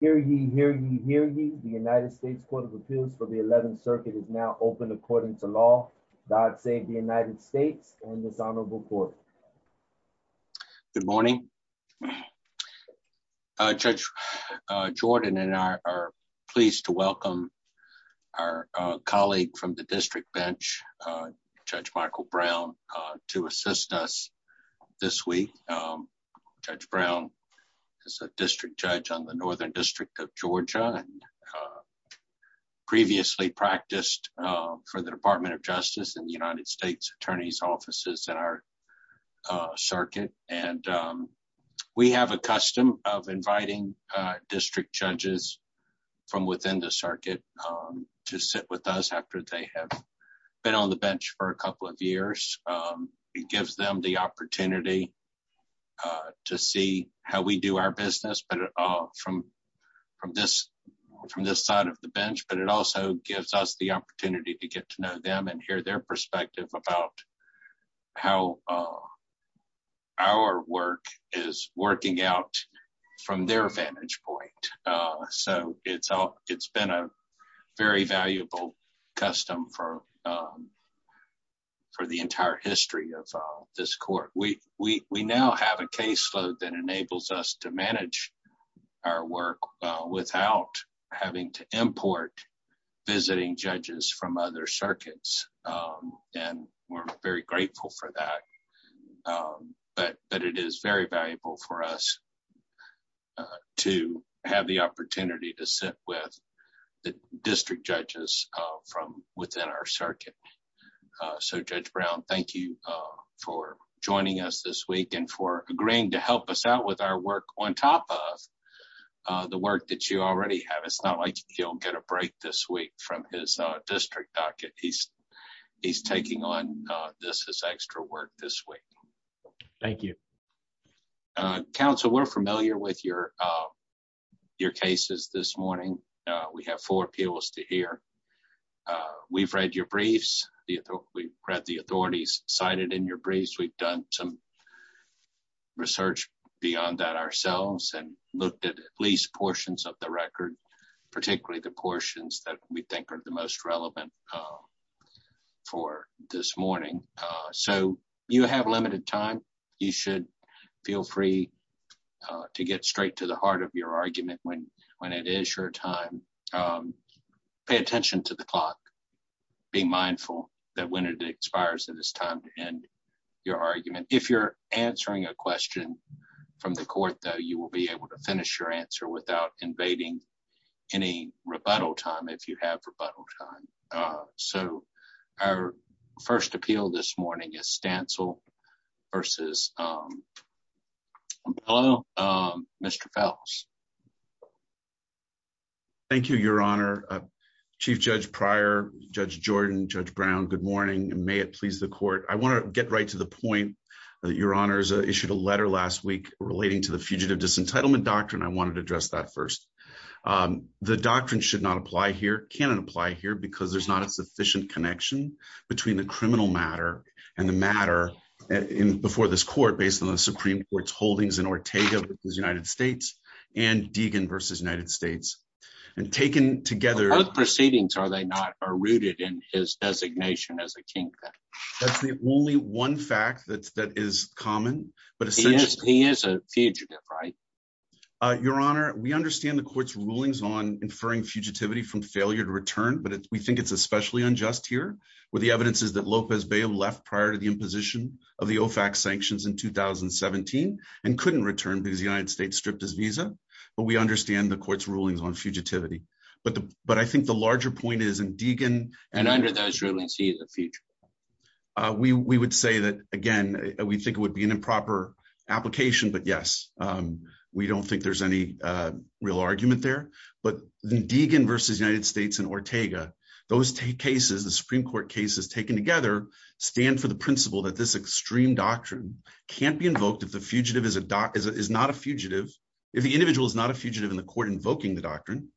Hear ye, hear ye, hear ye. The United States Court of Appeals for the 11th Circuit is now open according to law. God save the United States and this honorable court. Good morning. Judge Jordan and I are pleased to welcome our colleague from the district bench, Judge Michael Brown to assist us this week. Judge Brown is a district judge on the Northern District of Georgia and previously practiced for the Department of Justice in the United States Attorney's Offices in our circuit. And we have a custom of inviting district judges from within the circuit to sit with us after they have been on the bench for a couple of years. It gives them the opportunity to see how we do our business from this side of the bench, but it also gives us the opportunity to get to know them and hear their perspective about how our work is working out from their vantage point. So it's been a very valuable custom for the entire history of this court. We now have a caseload that enables us to manage our work without having to import visiting judges from other circuits. And we're very grateful for that. But it is very valuable for us to have the opportunity to sit with the district judges from within our circuit. So Judge Brown, thank you for joining us this week and for agreeing to help us out with our work on top of the work that you already have. It's not like he'll get a break this week from his district docket. He's taking on this extra work this week. Thank you. Counsel, we're familiar with your cases this morning. We have four appeals to hear. We've read your briefs. We've read the authorities cited in your briefs. We've done some beyond that ourselves and looked at at least portions of the record, particularly the portions that we think are the most relevant for this morning. So you have limited time. You should feel free to get straight to the heart of your argument when it is your time. Pay attention to the clock. Be mindful that when it expires that it's time to end your argument. If you're answering a question from the court, though, you will be able to finish your answer without invading any rebuttal time if you have rebuttal time. So our first appeal this morning is Stancil versus Mr. Phelps. Thank you, Your Honor. Chief Judge Pryor, Judge Jordan, Judge Brown, good morning, and may it please the court. I want to get right to the point that Your Honor has issued a letter last week relating to the Fugitive Disentitlement Doctrine. I wanted to address that first. The doctrine should not apply here, cannot apply here, because there's not a sufficient connection between the criminal matter and the matter before this court based on the Supreme Court's holdings in Ortega v. United States and Deegan v. United States. And taken together... That's the only one fact that is common. He is a fugitive, right? Your Honor, we understand the court's rulings on inferring fugitivity from failure to return, but we think it's especially unjust here, where the evidence is that López Beyo left prior to the imposition of the OFAC sanctions in 2017 and couldn't return because the United States stripped his visa. But we understand the court's rulings on fugitivity. But I think the larger point is in Deegan... And under those rulings, he is a fugitive. We would say that, again, we think it would be an improper application, but yes, we don't think there's any real argument there. But Deegan v. United States and Ortega, those cases, the Supreme Court cases taken together stand for the principle that this extreme doctrine can't be invoked if the fugitive is not a fugitive, if the individual is not a fugitive in the court invoking the doctrine.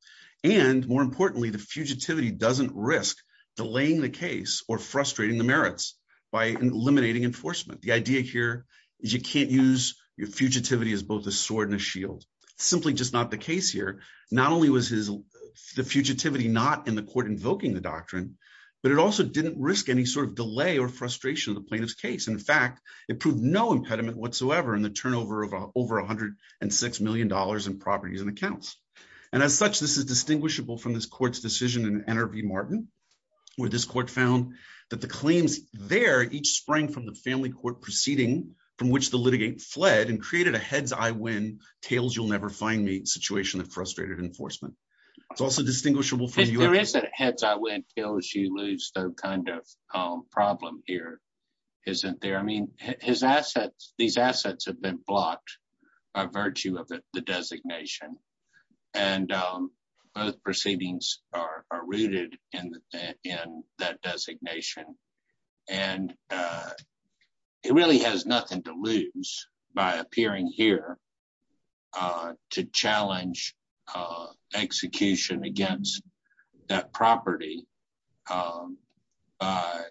And more importantly, the fugitivity doesn't risk delaying the case or frustrating the merits by eliminating enforcement. The idea here is you can't use your fugitivity as both a sword and a shield. It's simply just not the case here. Not only was the fugitivity not in the court invoking the doctrine, but it also didn't risk any sort of delay or frustration in the plaintiff's case. In fact, it proved no impediment whatsoever in the turnover of over $106 million in properties and accounts. And as such, this is distinguishable from this court's decision in N.R.V. Martin, where this court found that the claims there each sprang from the family court proceeding from which the litigant fled and created a heads-I-win, tails-you'll-never-find-me situation of frustrated enforcement. It's also distinguishable from the U.S. There is a heads-I-win, tails-you-lose kind of problem here, isn't there? I mean, his assets, these assets have been blocked by virtue of the designation. And both proceedings are rooted in that designation. And it really has nothing to lose by appearing here to challenge execution against that property by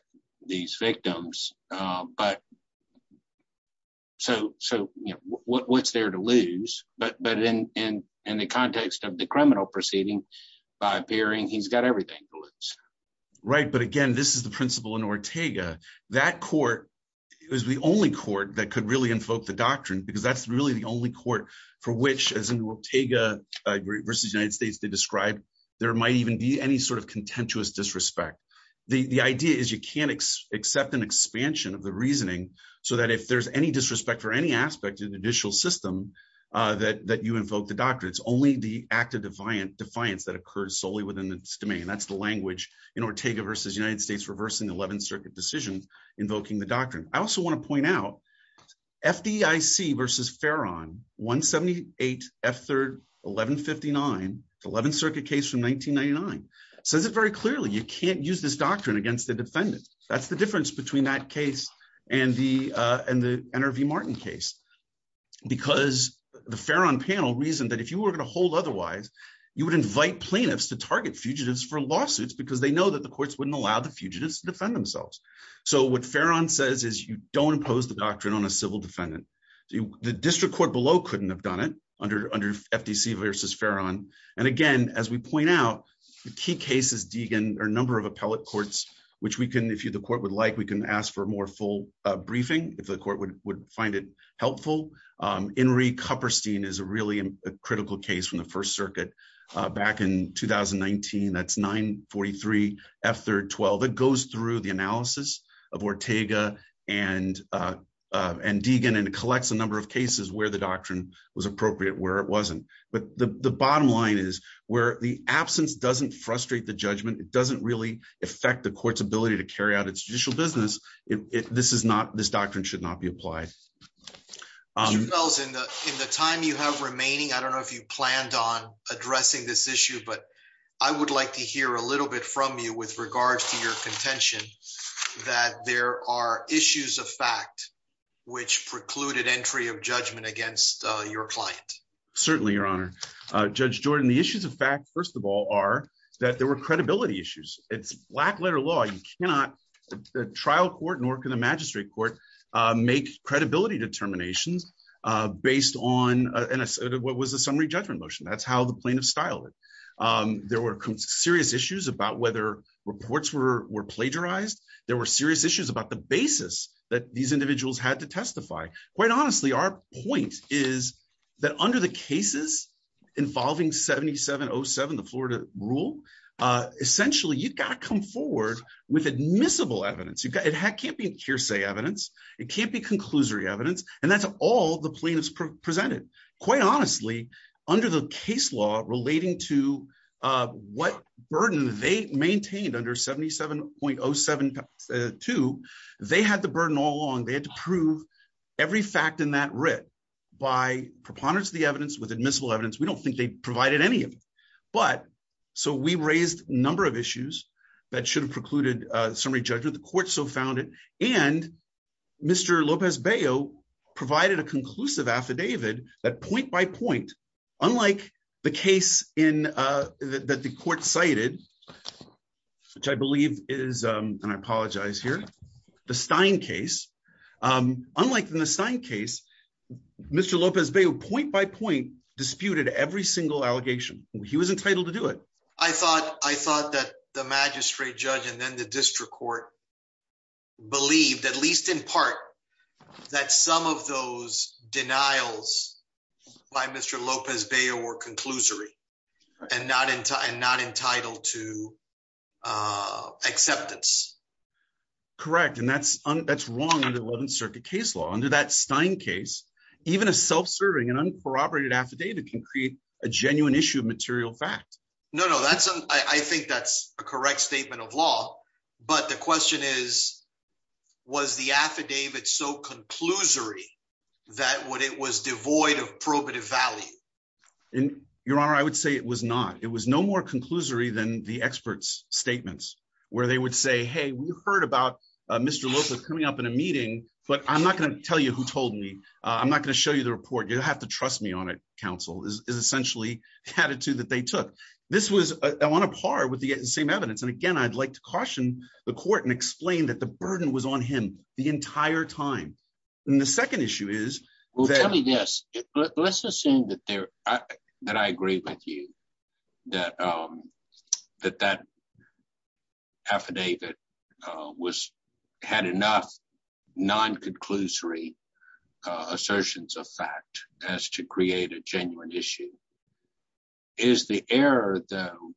these victims. So what's there to lose? But in the context of the criminal proceeding, by appearing, he's got everything to lose. Right. But again, this is the principle in Ortega. That court is the only court that could really which, as in Ortega v. United States, they described, there might even be any sort of contentious disrespect. The idea is you can't accept an expansion of the reasoning so that if there's any disrespect for any aspect of the judicial system that you invoke the doctrine. It's only the act of defiance that occurs solely within its domain. That's the language in Ortega v. United States reversing the 11th Circuit decision invoking the doctrine. I also want to point out FDIC v. Farron, 178 F3rd 1159, 11th Circuit case from 1999, says it very clearly. You can't use this doctrine against the defendant. That's the difference between that case and the N.R.V. Martin case. Because the Farron panel reasoned that if you were going to hold otherwise, you would invite plaintiffs to target fugitives for lawsuits because they know that the courts wouldn't allow the fugitives to defend themselves. What Farron says is you don't impose the doctrine on a civil defendant. The district court below couldn't have done it under FDC v. Farron. Again, as we point out, the key cases, Deegan, are a number of appellate courts, which we can, if the court would like, we can ask for more full briefing if the court would find it helpful. Enrique Hupperstein is a really critical case from the First Circuit back in 2019. That's 943 F3rd 12. It goes through the analysis of Ortega and Deegan and collects a number of cases where the doctrine was appropriate, where it wasn't. But the bottom line is where the absence doesn't frustrate the judgment, it doesn't really affect the court's ability to carry out its judicial business, this doctrine should not be addressing this issue. But I would like to hear a little bit from you with regards to your contention, that there are issues of fact, which precluded entry of judgment against your client. Certainly, Your Honor, Judge Jordan, the issues of fact, first of all, are that there were credibility issues. It's black letter law, you cannot trial court nor can the magistrate court make credibility determinations based on what was the summary judgment motion. That's how the plaintiff styled it. There were serious issues about whether reports were plagiarized. There were serious issues about the basis that these individuals had to testify. Quite honestly, our point is that under the cases involving 7707, the Florida rule, essentially, you've got to come with admissible evidence, it can't be hearsay evidence, it can't be conclusory evidence. And that's all the plaintiffs presented. Quite honestly, under the case law relating to what burden they maintained under 77.072, they had the burden all along, they had to prove every fact in that writ by preponderance of the evidence with admissible evidence, we don't think they provided any of it. But so we raised a number of issues that should have precluded summary judgment, the court so found it. And Mr. Lopez Bayo provided a conclusive affidavit that point by point, unlike the case in that the court cited, which I believe is, and I apologize here, the Stein case. Unlike the Stein case, Mr. Lopez Bayo point by point disputed every single allegation, he was entitled to do it. I thought I thought that the magistrate judge and then the district court believed at least in part, that some of those denials by Mr. Lopez Bayo were conclusory, and not in time not entitled to acceptance. Correct. And that's, that's wrong under the 11th Circuit case law under that Stein case, even a self serving and uncorroborated affidavit can create a genuine issue of material fact. No, no, that's, I think that's a correct statement of law. But the question is, was the affidavit so conclusory, that what it was devoid of probative value? In your honor, I would say it was not it was no more conclusory than the experts statements, where they would say, Hey, we heard about Mr. Lopez coming up in a meeting, but I'm not going to tell you who told me, I'm not going to show you the report, you have to trust me on it, counsel is essentially the attitude that they took. This was on a par with the same evidence. And again, I'd like to caution the court and explain that the burden was on him the entire time. And the second issue is, well, yes, let's assume that that I agree with you that that that affidavit was had enough non conclusory assertions of fact as to create a genuine issue. Is the error though,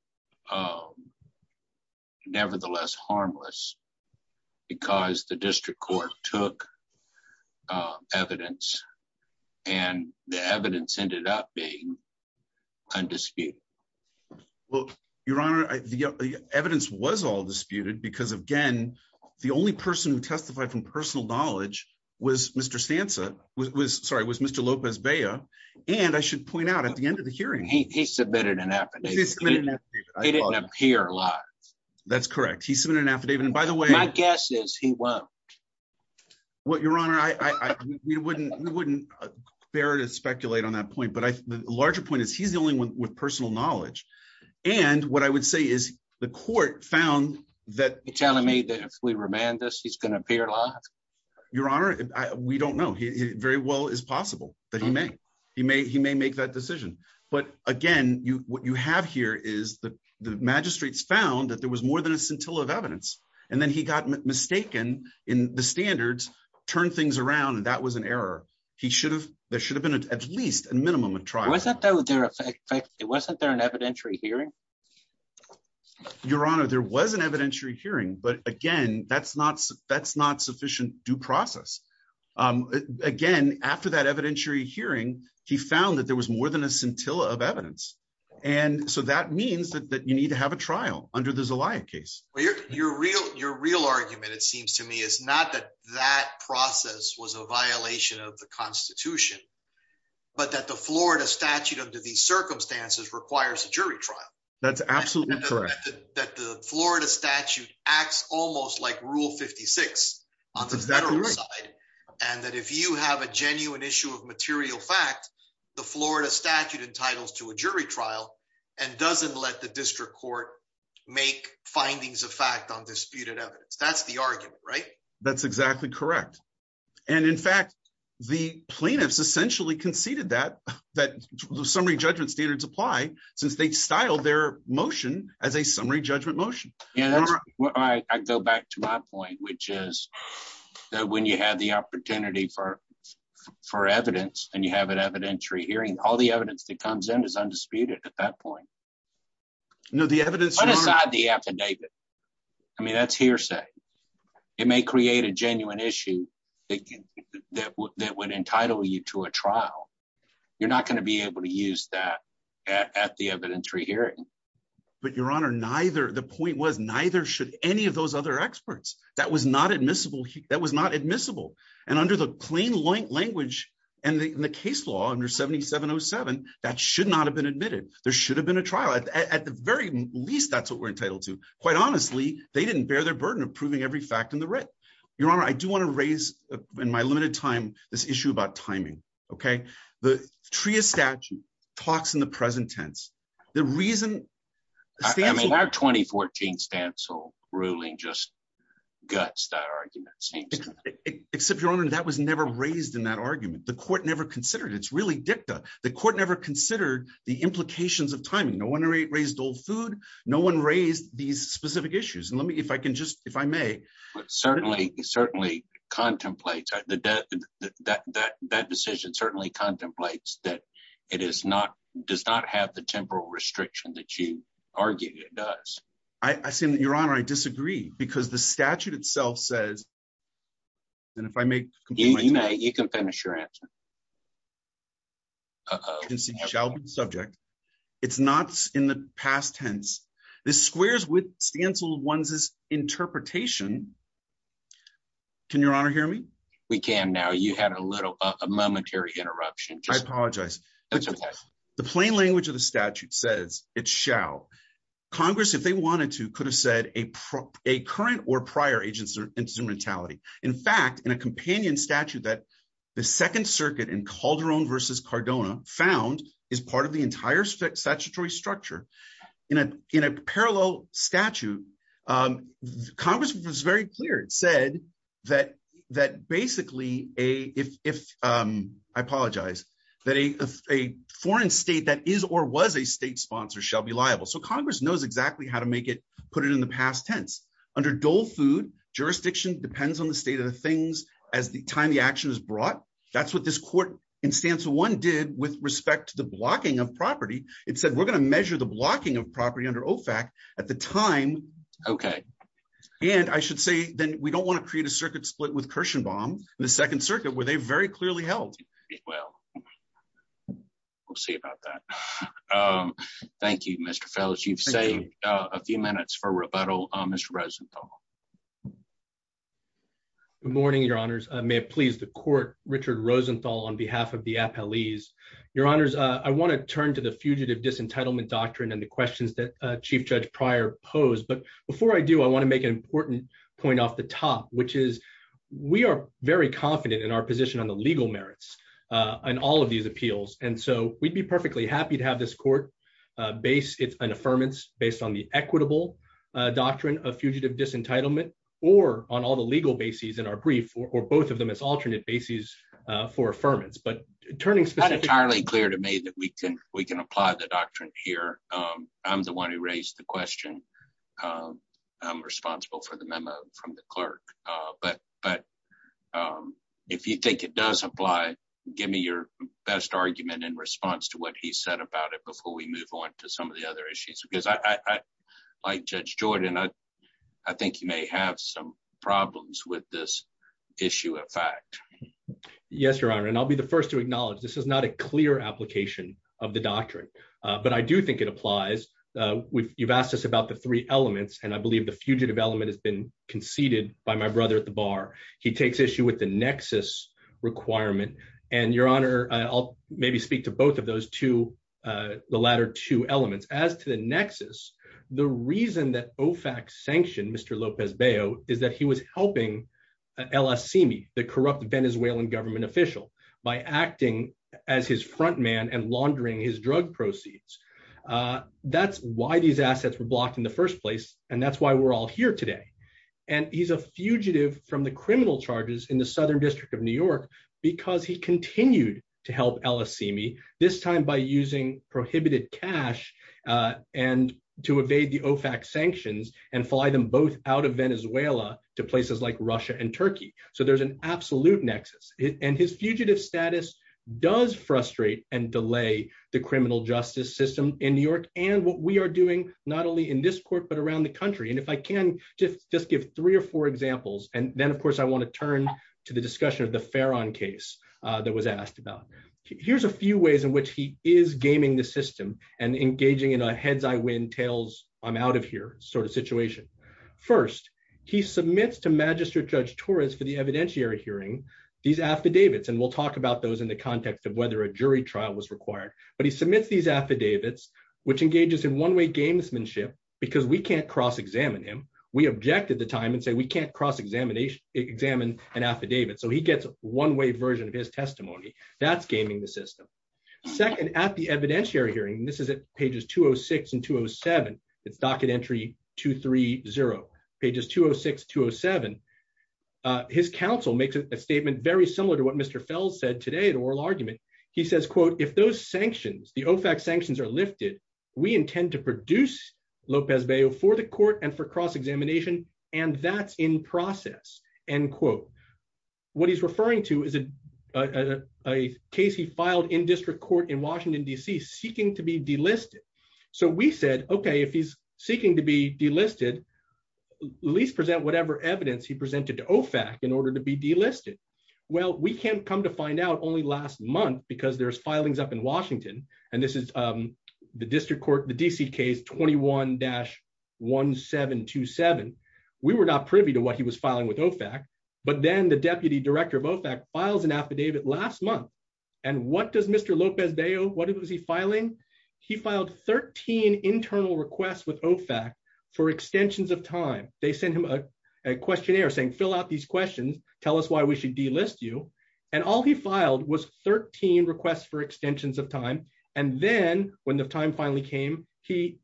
harmless? Because the district court took evidence, and the evidence ended up being undisputed? Well, your honor, the evidence was all disputed. Because again, the only person who testified from personal knowledge was Mr. stanza was sorry, was Mr. Lopez Bayer. And I should point out at the end of the hearing, he submitted an app. He didn't appear live. That's correct. He submitted an affidavit. And by the way, my guess is he won't. What your honor, I wouldn't wouldn't bear to speculate on that point. But I larger point is he's the only one with personal knowledge. And what I would say is the court found that telling me that if we remand this, he's going to appear live. Your honor, we don't know he very well is possible that he may, he may he may make that decision. But again, you what you have here is the magistrates found that there was more than a scintilla of evidence. And then he got mistaken in the standards, turn things around. And that was an error. He should have, there should have been at least a minimum of trial. Was that there? Was that there an evidentiary hearing? Your honor, there was an evidentiary hearing. But again, that's not that's not sufficient due process. Again, after that evidentiary hearing, he found that there was more than a scintilla of evidence. And so that means that you need to have a trial under the Zelaya case. Well, your real your real argument, it seems to me is not that that process was a violation of the Constitution. But that the Florida statute under these circumstances requires a jury trial. That's absolutely correct. That the Florida statute acts almost like rule 56. And that if you have a genuine issue of material fact, the Florida statute entitles to a jury trial, and doesn't let the district court make findings of fact on disputed evidence. That's the argument, right? That's exactly correct. And in fact, the plaintiffs essentially conceded that, that summary judgment standards apply, since they style their motion as a summary judgment motion. Yeah, I go back to my point, which is that when you have the opportunity for, for evidence, and you have an evidentiary hearing, all the evidence that comes in is undisputed at that point. No, the evidence aside the affidavit. I mean, that's hearsay. It may create a genuine issue that would entitle you to a trial, you're not going to be able to use that at the evidentiary hearing. But your honor, neither the point was neither should any of those other experts that was not admissible, that was not admissible. And under the plain language, and the case law under 7707, that should not have been admitted, there should have been a trial at the very least, that's what we're entitled to. Quite honestly, they didn't bear the burden of proving every fact in the writ. Your honor, I do want to raise in my limited time, this issue about timing. Okay, the TRIA statute talks in the present tense. The reason I mean, our 2014 Stansell ruling just guts that argument. Except your honor, that was never raised in that argument. The court never considered it's really dicta. The court never considered the implications of timing. No one raised old food. No one raised these specific issues. And let me if I can just if I may, certainly certainly contemplate that that that that decision certainly contemplates that it is not does not have the temporal restriction that you argued it does. I seem to your honor, I disagree because the statute itself says that if I make you know, you can finish your answer. shall be the subject. It's not in the past tense. This squares with Stansell ones is interpretation. Can your honor hear me? We can now you had a little momentary interruption. I apologize. The plain language of the statute says it shall. Congress if they wanted to could have said a a current or prior agency or instrumentality. In fact, in a companion statute that the Second Circuit in Calderon versus Cardona found is part of the entire statutory structure in a in a parallel statute. Congress was very clear, it said that, that basically a if I apologize, that a foreign state that is or was a state sponsor shall be liable. So Congress knows exactly how to make it put it in the past tense. Under dole food jurisdiction depends on the state of things as the time the action is brought. That's what this court in Stansell one did with respect to the blocking of property. It said we're going to measure the blocking of property under OFAC at the time. Okay. And I should say then we don't want to create a circuit split with Kirshenbaum, the Second Circuit where they very clearly held. Well, we'll see about that. Thank you, Mr. Felch. You've saved a few minutes for rebuttal, Mr. Rosenthal. Good morning, your honors. May it please the court, Richard Rosenthal on behalf of the appellees. Your honors, I want to turn to the fugitive disentitlement doctrine and the questions that Chief Judge Pryor posed. But before I do, I want to make an important point off the top, which is we are very confident in our position on the legal merits and all of these appeals. And so we'd be perfectly happy to have this court base its an affirmance based on the equitable doctrine of fugitive disentitlement, or on all the legal bases in our brief, or both of them as alternate bases for affirmance. But turning... It's not entirely clear to me that we can apply the doctrine here. I'm the one who raised the question. I'm responsible for the memo from the clerk. But if you think it does apply, give me your best argument in response to what he said about it before we move on to some of the other issues. Because I, like Judge Jordan, I think you may have some problems with this issue of fact. Yes, your honor. And I'll be the first to acknowledge this is not a clear application of the doctrine. But I do think it applies. You've asked us about the three elements, and I believe the fugitive element has been conceded by my brother at the bar. He takes issue with the nexus requirement. And your honor, I'll maybe speak to both of those two, the latter two elements. As to the nexus, the reason that OFAC sanctioned Mr. López-Beo is that he was helping El Asimi, the corrupt Venezuelan government official, by acting as his front man and laundering his drug proceeds. That's why these assets were blocked in the first place, and that's why we're all here today. And he's a fugitive from the criminal charges in the prohibited cash, and to evade the OFAC sanctions and fly them both out of Venezuela to places like Russia and Turkey. So there's an absolute nexus. And his fugitive status does frustrate and delay the criminal justice system in New York and what we are doing, not only in this court, but around the country. And if I can just give three or four examples, and then of course, I want to turn to the discussion of the Ferran case that was asked about. Here's a few ways in and engaging in a heads-I-win, tails-I'm-out-of-here sort of situation. First, he submits to Magistrate Judge Torres for the evidentiary hearing these affidavits, and we'll talk about those in the context of whether a jury trial was required. But he submits these affidavits, which engages in one-way gamesmanship because we can't cross-examine him. We object at the time and say we can't cross-examine an affidavit. So he gets a one-way version of his testimony. That's gaming the system. Second, at the evidentiary hearing, and this is at pages 206 and 207, it's docket entry 230, pages 206, 207, his counsel makes a statement very similar to what Mr. Fels said today at oral argument. He says, quote, if those sanctions, the OFAC sanctions are lifted, we intend to produce Lopez-Bello for the court and for cross-examination, and that's in process, end quote. What he's referring to is a case he filed in district court in Washington, D.C. seeking to be delisted. So we said, okay, if he's seeking to be delisted, at least present whatever evidence he presented to OFAC in order to be delisted. Well, we can't come to find out only last month because there's filings up in Washington, and this is the district court, the D.C. case 21-1727. We were not privy to what was filing with OFAC, but then the deputy director of OFAC files an affidavit last month, and what does Mr. Lopez-Bello, what was he filing? He filed 13 internal requests with OFAC for extensions of time. They sent him a questionnaire saying, fill out these questions, tell us why we should delist you, and all he filed was 13 requests for extensions of time, and then when the time finally came, he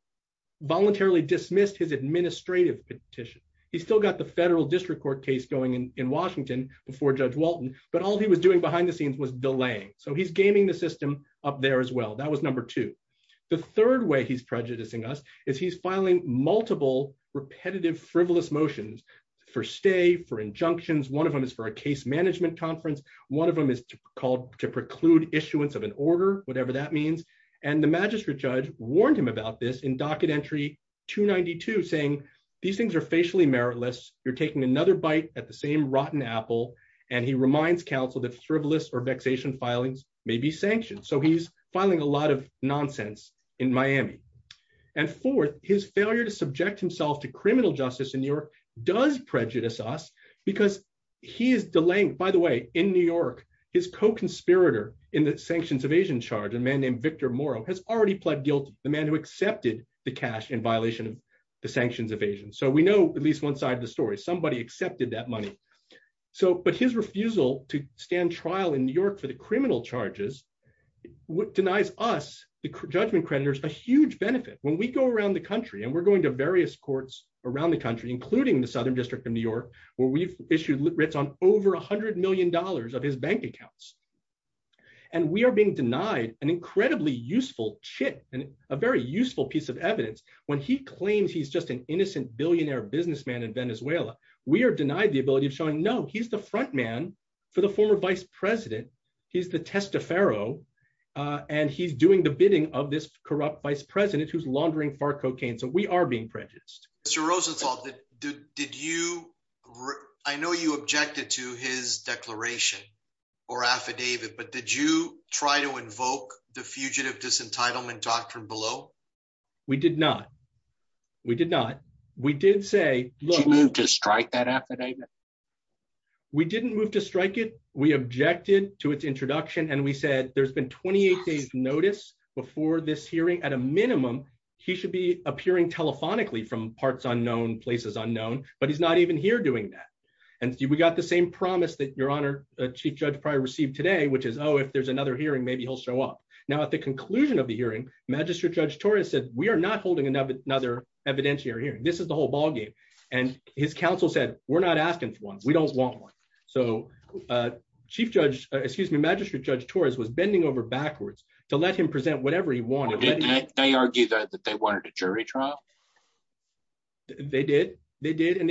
voluntarily dismissed his administrative petition. He's still got the federal district court case going in Washington before Judge Walton, but all he was doing behind the scenes was delaying. So he's gaming the system up there as well. That was number two. The third way he's prejudicing us is he's filing multiple repetitive frivolous motions for stay, for injunctions. One of them is for a case management conference. One of them is called to preclude issuance of an order, whatever that means, and the magistrate judge warned him about this in docket entry 292 saying, these things are facially meritless, you're taking another bite at the same rotten apple, and he reminds counsel that frivolous or vexation filings may be sanctioned. So he's filing a lot of nonsense in Miami. And fourth, his failure to subject himself to criminal justice in New York does prejudice us because he is delaying, by the way, in New York, his co-conspirator in the sanctions evasion charge, a man named Victor Moro, has already pled guilty, the man who accepted the cash in violation of the sanctions evasion. So we know at least one side of the story, somebody accepted that money. But his refusal to stand trial in New York for the criminal charges denies us, the judgment creditors, a huge benefit. When we go around the country, and we're going to various courts around the country, including the Southern District of New York, where we've issued writs on over a hundred million dollars of his bank accounts, and we are being denied an incredibly useful chit, a very useful piece of evidence, when he claims he's just an innocent billionaire businessman in Venezuela, we are denied the ability of showing, no, he's the front man for the former vice president, he's the test of Pharaoh, and he's doing the bidding of this corrupt vice president who's laundering far cocaine. So we are being prejudiced. Mr. Rosenthal, I know you objected to his declaration or affidavit, but did you try to invoke the fugitive disentitlement doctrine below? We did not. We did not. We did say, look... Did you move to strike that affidavit? We didn't move to strike it. We objected to its introduction. And we said, there's been 28 days notice before this hearing, at a minimum, he should be appearing telephonically from parts unknown, places unknown, but he's not even here doing that. And we got the same promise that Chief Judge Pryor received today, which is, oh, if there's another hearing, maybe he'll show up. Now, at the conclusion of the hearing, Magistrate Judge Torres said, we are not holding another evidentiary hearing. This is the whole ballgame. And his counsel said, we're not asking for one, we don't want one. So Chief Judge, excuse me, Magistrate Judge Torres was bending over backwards to let him present whatever he wanted. Did they argue that they wanted a jury trial? They did. They did. And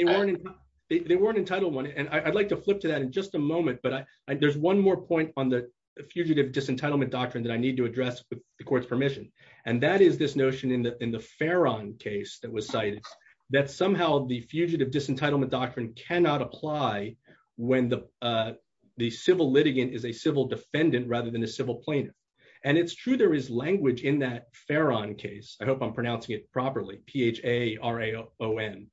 they weren't entitled one. And I'd like to flip to that in just a moment. But there's one more point on the fugitive disentitlement doctrine that I need to address with the court's permission. And that is this notion in the Farron case that was cited, that somehow the fugitive disentitlement doctrine cannot apply when the civil litigant is a civil defendant rather than a civil plaintiff. And it's true there is language in that Farron case, I hope I'm pronouncing it properly, P-H-A-R-A-O-N,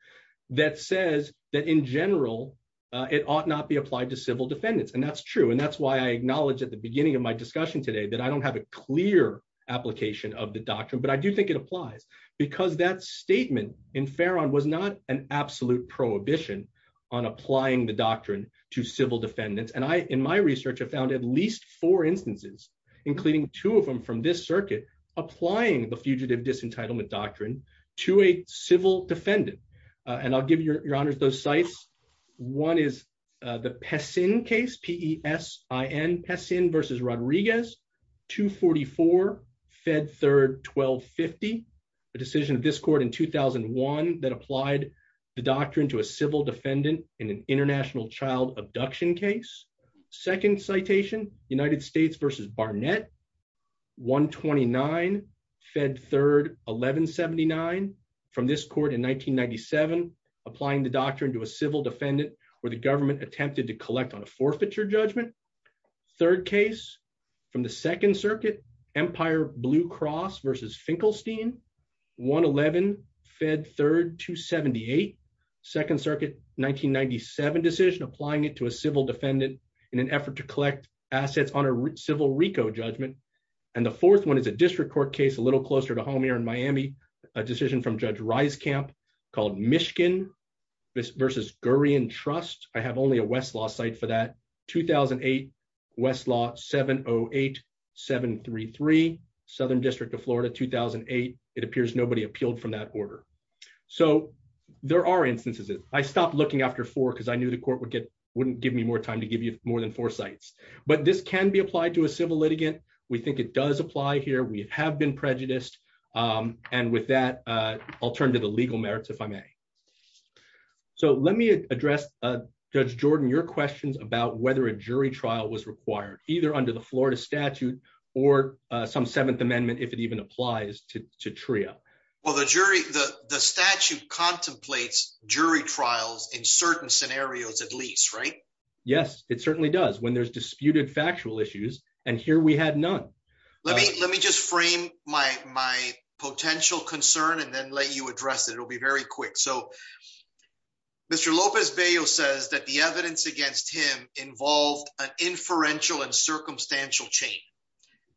that says that in general, it ought not be applied to civil defendants. And that's true. And that's why I acknowledged at the beginning of my discussion today that I don't have a clear application of the doctrine, but I do think it applies. Because that statement in Farron was not an absolute prohibition on applying the doctrine to civil defendants. And I, in my research, have found at least four instances, including two of them from this circuit, applying the fugitive disentitlement doctrine to a civil defendant. And I'll give your honors those sites. One is the Pessin case, P-E-S-I-N, Pessin versus Rodriguez, 244, Fed Third, 1250, a decision of this court in 2001 that applied the doctrine to a civil defendant in an international child abduction case. Second citation, United States versus Barnett, 129, Fed Third, 1179, from this court in 1997, applying the doctrine to a civil defendant where the government attempted to collect on a forfeiture judgment. Third case from the Second Circuit, Empire Blue Cross versus Finkelstein, 111, Fed Third, 278, Second Circuit, 1997 decision, applying it to a civil defendant in an effort to collect assets on a civil RICO judgment. And the fourth one is a district court case a little closer to home here in Miami, a decision from Judge Rieskamp called Mishkin versus Gurian Trust. I have only a Westlaw site for that, 2008, Westlaw, 708733, Southern District of Florida, 2008. It appears nobody appealed from that order. So there are instances. I stopped looking after four because I knew the court wouldn't give me more time to give you more than four sites. But this can be applied to a civil litigant. We think it does apply here. We have been prejudiced. And with that, I'll turn to the legal merits, if I may. So let me address, Judge Jordan, your questions about whether a jury trial was required, either under the Florida statute or some Seventh Amendment, if it even applies to TRIO. Well, the statute contemplates jury trials in certain scenarios, at least, right? Yes, it certainly does when there's disputed factual issues. And here we had none. Let me just frame my potential concern and then let you address it. It'll be very quick. So Mr. Lopez-Bello says that the evidence against him involved an inferential and circumstantial chain.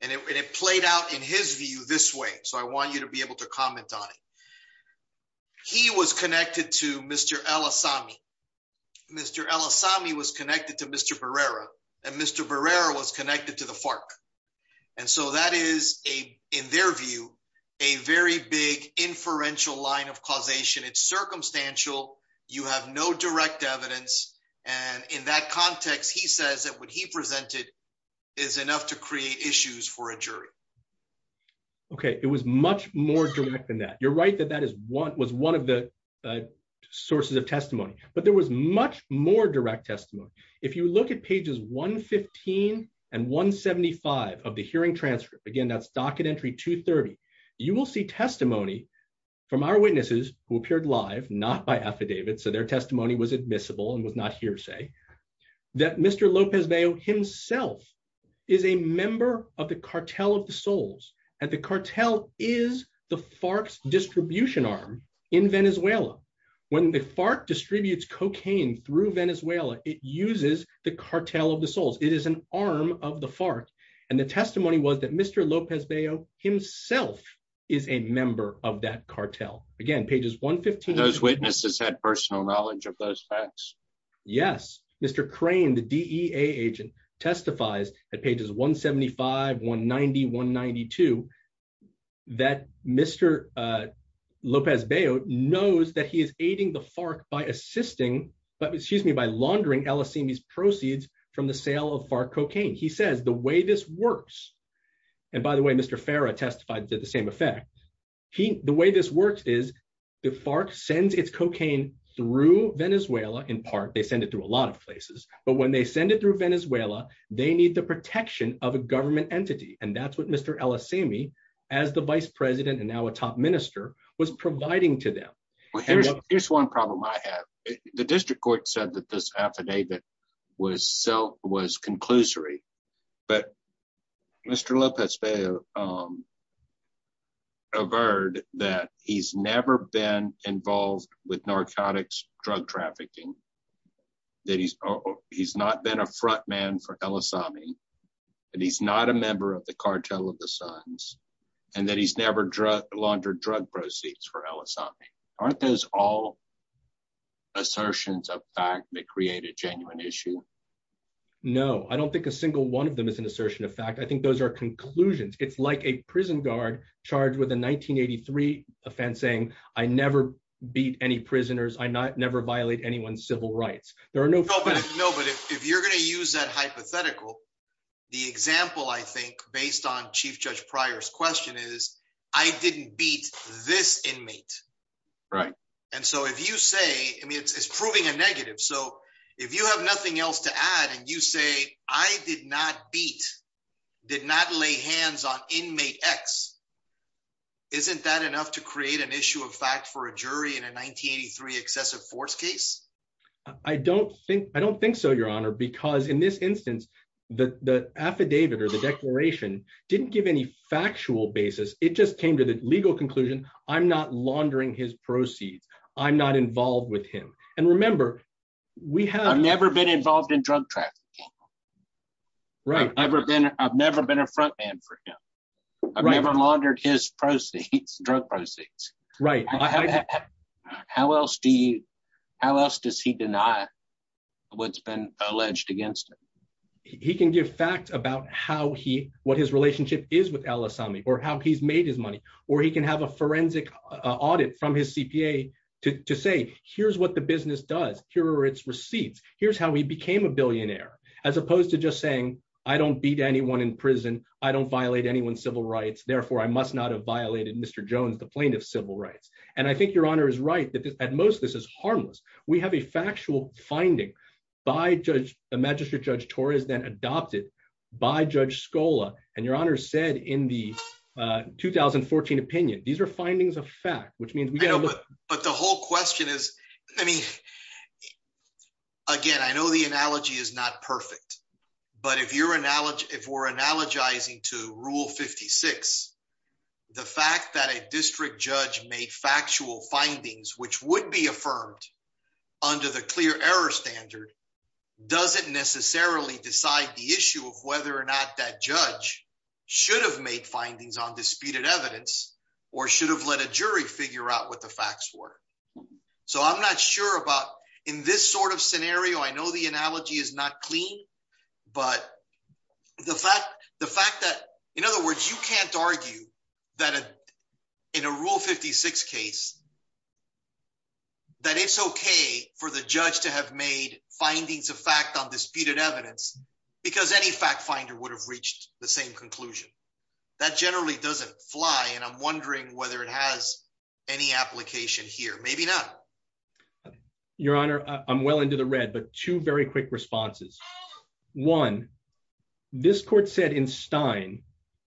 And it played out, in his view, this way. So I want you to be able to comment on it. He was connected to Mr. El Asami. Mr. El Asami was connected to Mr. Barrera, and Mr. Barrera was connected to the FARC. And so that is, in their view, a very big inferential line of causation. It's circumstantial. You have no direct evidence. And in that context, he says that what he presented is enough to create issues for a jury. Okay. It was much more direct than that. You're right that that was one of the sources of testimony. But there was much more direct testimony. If you look at pages 115 and 175 of the hearing transcript, again, that's docket entry 230, you will see testimony from our hearsay that Mr. Lopez-Bello himself is a member of the Cartel of the Souls. And the cartel is the FARC's distribution arm in Venezuela. When the FARC distributes cocaine through Venezuela, it uses the Cartel of the Souls. It is an arm of the FARC. And the testimony was that Mr. Lopez-Bello himself is a member of that cartel. Again, pages 115. Those witnesses had personal knowledge of those facts. Yes. Mr. Crane, the DEA agent, testifies at pages 175, 190, 192, that Mr. Lopez-Bello knows that he is aiding the FARC by laundering El Asimi's proceeds from the sale of FARC cocaine. He says, the way this works, and by the way, Mr. Farah testified to the same effect, the way this works is the FARC sends its cocaine through Venezuela, in part, they send it through a lot of places. But when they send it through Venezuela, they need the protection of a government entity. And that's what Mr. El Asimi, as the vice president and now a top minister, was providing to them. Here's one problem I have. The district court said that this affidavit was conclusory. But Mr. Lopez-Bello averred that he's never been involved with narcotics drug trafficking, that he's not been a front man for El Asimi, and he's not a member of the cartel of the sons, and that he's never laundered drug proceeds for El Asimi. Aren't those all assertions of fact that create a genuine issue? No, I don't think a single one of them is an assertion of fact. I think those are conclusions. It's like a prison guard charged with a 1983 offense saying, I never beat any prisoners, I never violate anyone's civil rights. There are no... No, but if you're going to use that hypothetical, the example, I think, based on Chief Judge Pryor's question is, I didn't beat this inmate. Right. And so if you say, I mean, it's proving a negative. So if you have nothing else to add, and you say, I did not beat, did not lay hands on inmate X, isn't that enough to create an issue of fact for a jury in a 1983 excessive force case? I don't think so, Your Honor, because in this instance, the affidavit or the declaration didn't give any factual basis. It just came to the legal conclusion, I'm not laundering his proceeds. I'm not involved with him. And remember, we have... I've never been involved in drug trafficking. Right. I've never been a front man for him. I've never laundered his proceeds, drug proceeds. Right. How else does he deny what's been alleged against him? He can give facts about what his relationship is with al-Assami, or how he's made his money, or he can have a forensic audit from his CPA to say, here's what the business does. Here are its receipts. Here's how he became a billionaire, as opposed to just saying, I don't beat anyone in prison. I don't violate anyone's civil rights. Therefore, I must not have violated Mr. Jones, the plaintiff's civil rights. And I think Your Honor is right that at most, this is harmless. We have a factual finding by the Magistrate Judge Torres, then adopted by Judge Scola. And Your Honor said in the 2014 opinion, these are findings of fact, which means we get a look... But the whole question is, I mean, again, I know the analogy is not perfect, but if we're analogizing to Rule 56, the fact that a district judge made factual findings, which would be affirmed under the clear error standard, doesn't necessarily decide the issue of whether or not that judge should have made findings on disputed evidence, or should have let a jury figure out what the facts were. So I'm not sure about... In this sort of scenario, I know the analogy is not clean, but the fact that... In other words, you can't argue that in a Rule 56 case, that it's okay for the judge to have made findings of fact on disputed evidence, because any fact finder would have reached the same conclusion. That generally doesn't fly, and I'm wondering whether it has any application here. Maybe not. Your Honor, I'm well into the red, but two very quick responses. One, this court said in Stein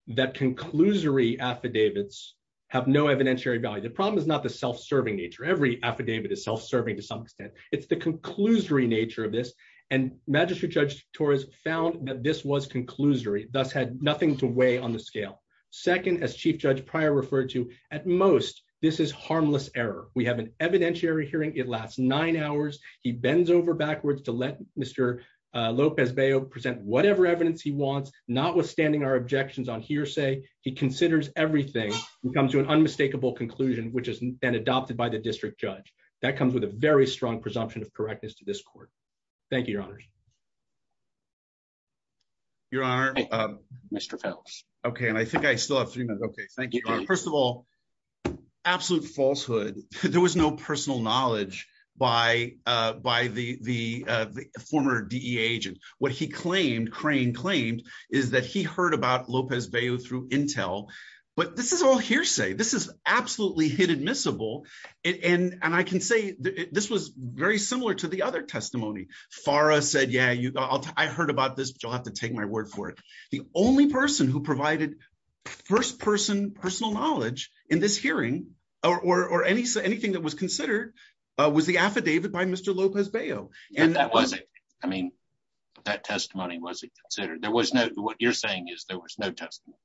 that conclusory affidavits have no evidentiary value. The problem is not the self-serving nature. Every affidavit is self-serving to some extent. It's the conclusory nature of this, and Magistrate Judge Torres found that this was conclusory, thus had nothing to weigh on the scale. Second, as Chief Judge Pryor referred to, at most, this is harmless error. We have an evidentiary hearing. It lasts nine hours. He bends over Lopez-Beyo present whatever evidence he wants, notwithstanding our objections on hearsay. He considers everything and comes to an unmistakable conclusion, which has been adopted by the district judge. That comes with a very strong presumption of correctness to this court. Thank you, Your Honors. Your Honor. Mr. Phelps. Okay, and I think I still have three minutes. Okay. Thank you, Your Honor. First of all, absolute falsehood. There was no personal agent. What he claimed, Crane claimed, is that he heard about Lopez-Beyo through intel, but this is all hearsay. This is absolutely hit admissible, and I can say this was very similar to the other testimony. FARA said, yeah, I heard about this, but you'll have to take my word for it. The only person who provided first-person personal knowledge in this hearing or anything that was considered was the affidavit by Mr. Lopez-Beyo. That testimony wasn't considered. What you're saying is there was no testimony.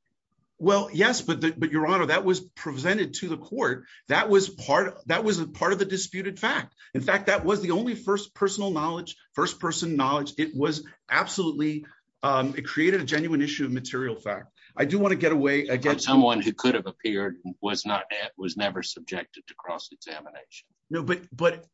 Well, yes, but Your Honor, that was presented to the court. That was part of the disputed fact. In fact, that was the only first personal knowledge, first-person knowledge. It created a genuine issue of material fact. I do want to get someone who could have appeared and was never subjected to cross-examination. No, but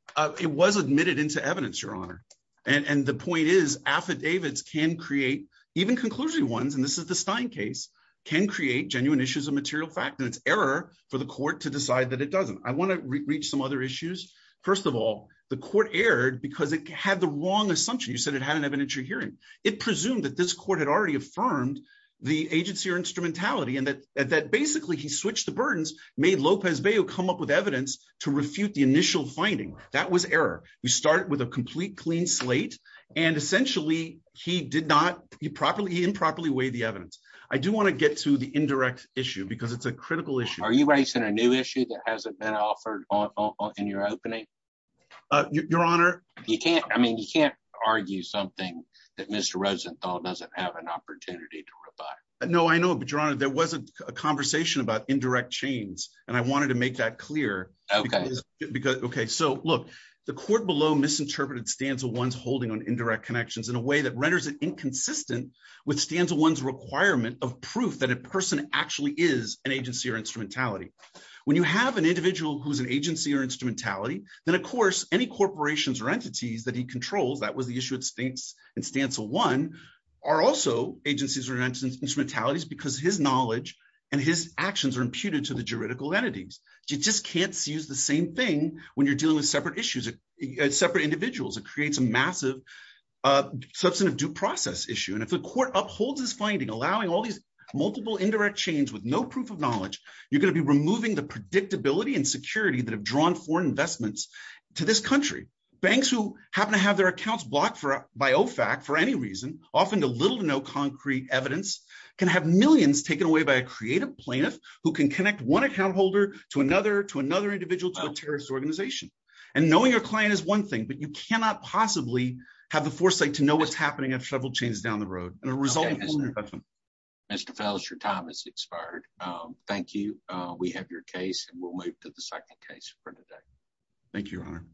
it was admitted into evidence, Your Honor, and the point is affidavits can create, even conclusive ones, and this is the Stein case, can create genuine issues of material fact, and it's error for the court to decide that it doesn't. I want to reach some other issues. First of all, the court erred because it had the wrong assumption. You said it had an evidentiary hearing. It presumed that this court had already affirmed the agency or instrumentality and that basically he switched the burdens, made Lopez-Beyo come up with evidence to refute the initial finding. That was error. We started with a complete clean slate, and essentially, he improperly weighed the evidence. I do want to get to the indirect issue because it's a critical issue. Are you raising a new issue that hasn't been offered in your opening? Your Honor, you can't, I mean, you can't argue something that Mr. Rosenthal doesn't have an opportunity to reply. No, I know, but Your Honor, there was a conversation about indirect chains, and I wanted to make that clear. Okay. Because, okay, so look, the court below misinterpreted Stancil 1's holding on indirect connections in a way that renders it inconsistent with Stancil 1's requirement of proof that a person actually is an agency or instrumentality. When you have an any corporations or entities that he controls, that was the issue at Stancil 1, are also agencies or instrumentalities because his knowledge and his actions are imputed to the juridical entities. You just can't use the same thing when you're dealing with separate issues, separate individuals. It creates a massive substantive due process issue. And if the court upholds this finding, allowing all these multiple indirect chains with no proof of knowledge, you're going to be removing the predictability and security that have drawn foreign investments to this country. Banks who happen to have their accounts blocked for by OFAC for any reason, often to little to no concrete evidence, can have millions taken away by a creative plaintiff who can connect one account holder to another, to another individual, to a terrorist organization. And knowing your client is one thing, but you cannot possibly have the foresight to know what's happening at several chains down the road. And a result... Mr. Fels, your time has expired. Thank you. We have your case, and we'll move to the second case for today. Thank you, Your Honor.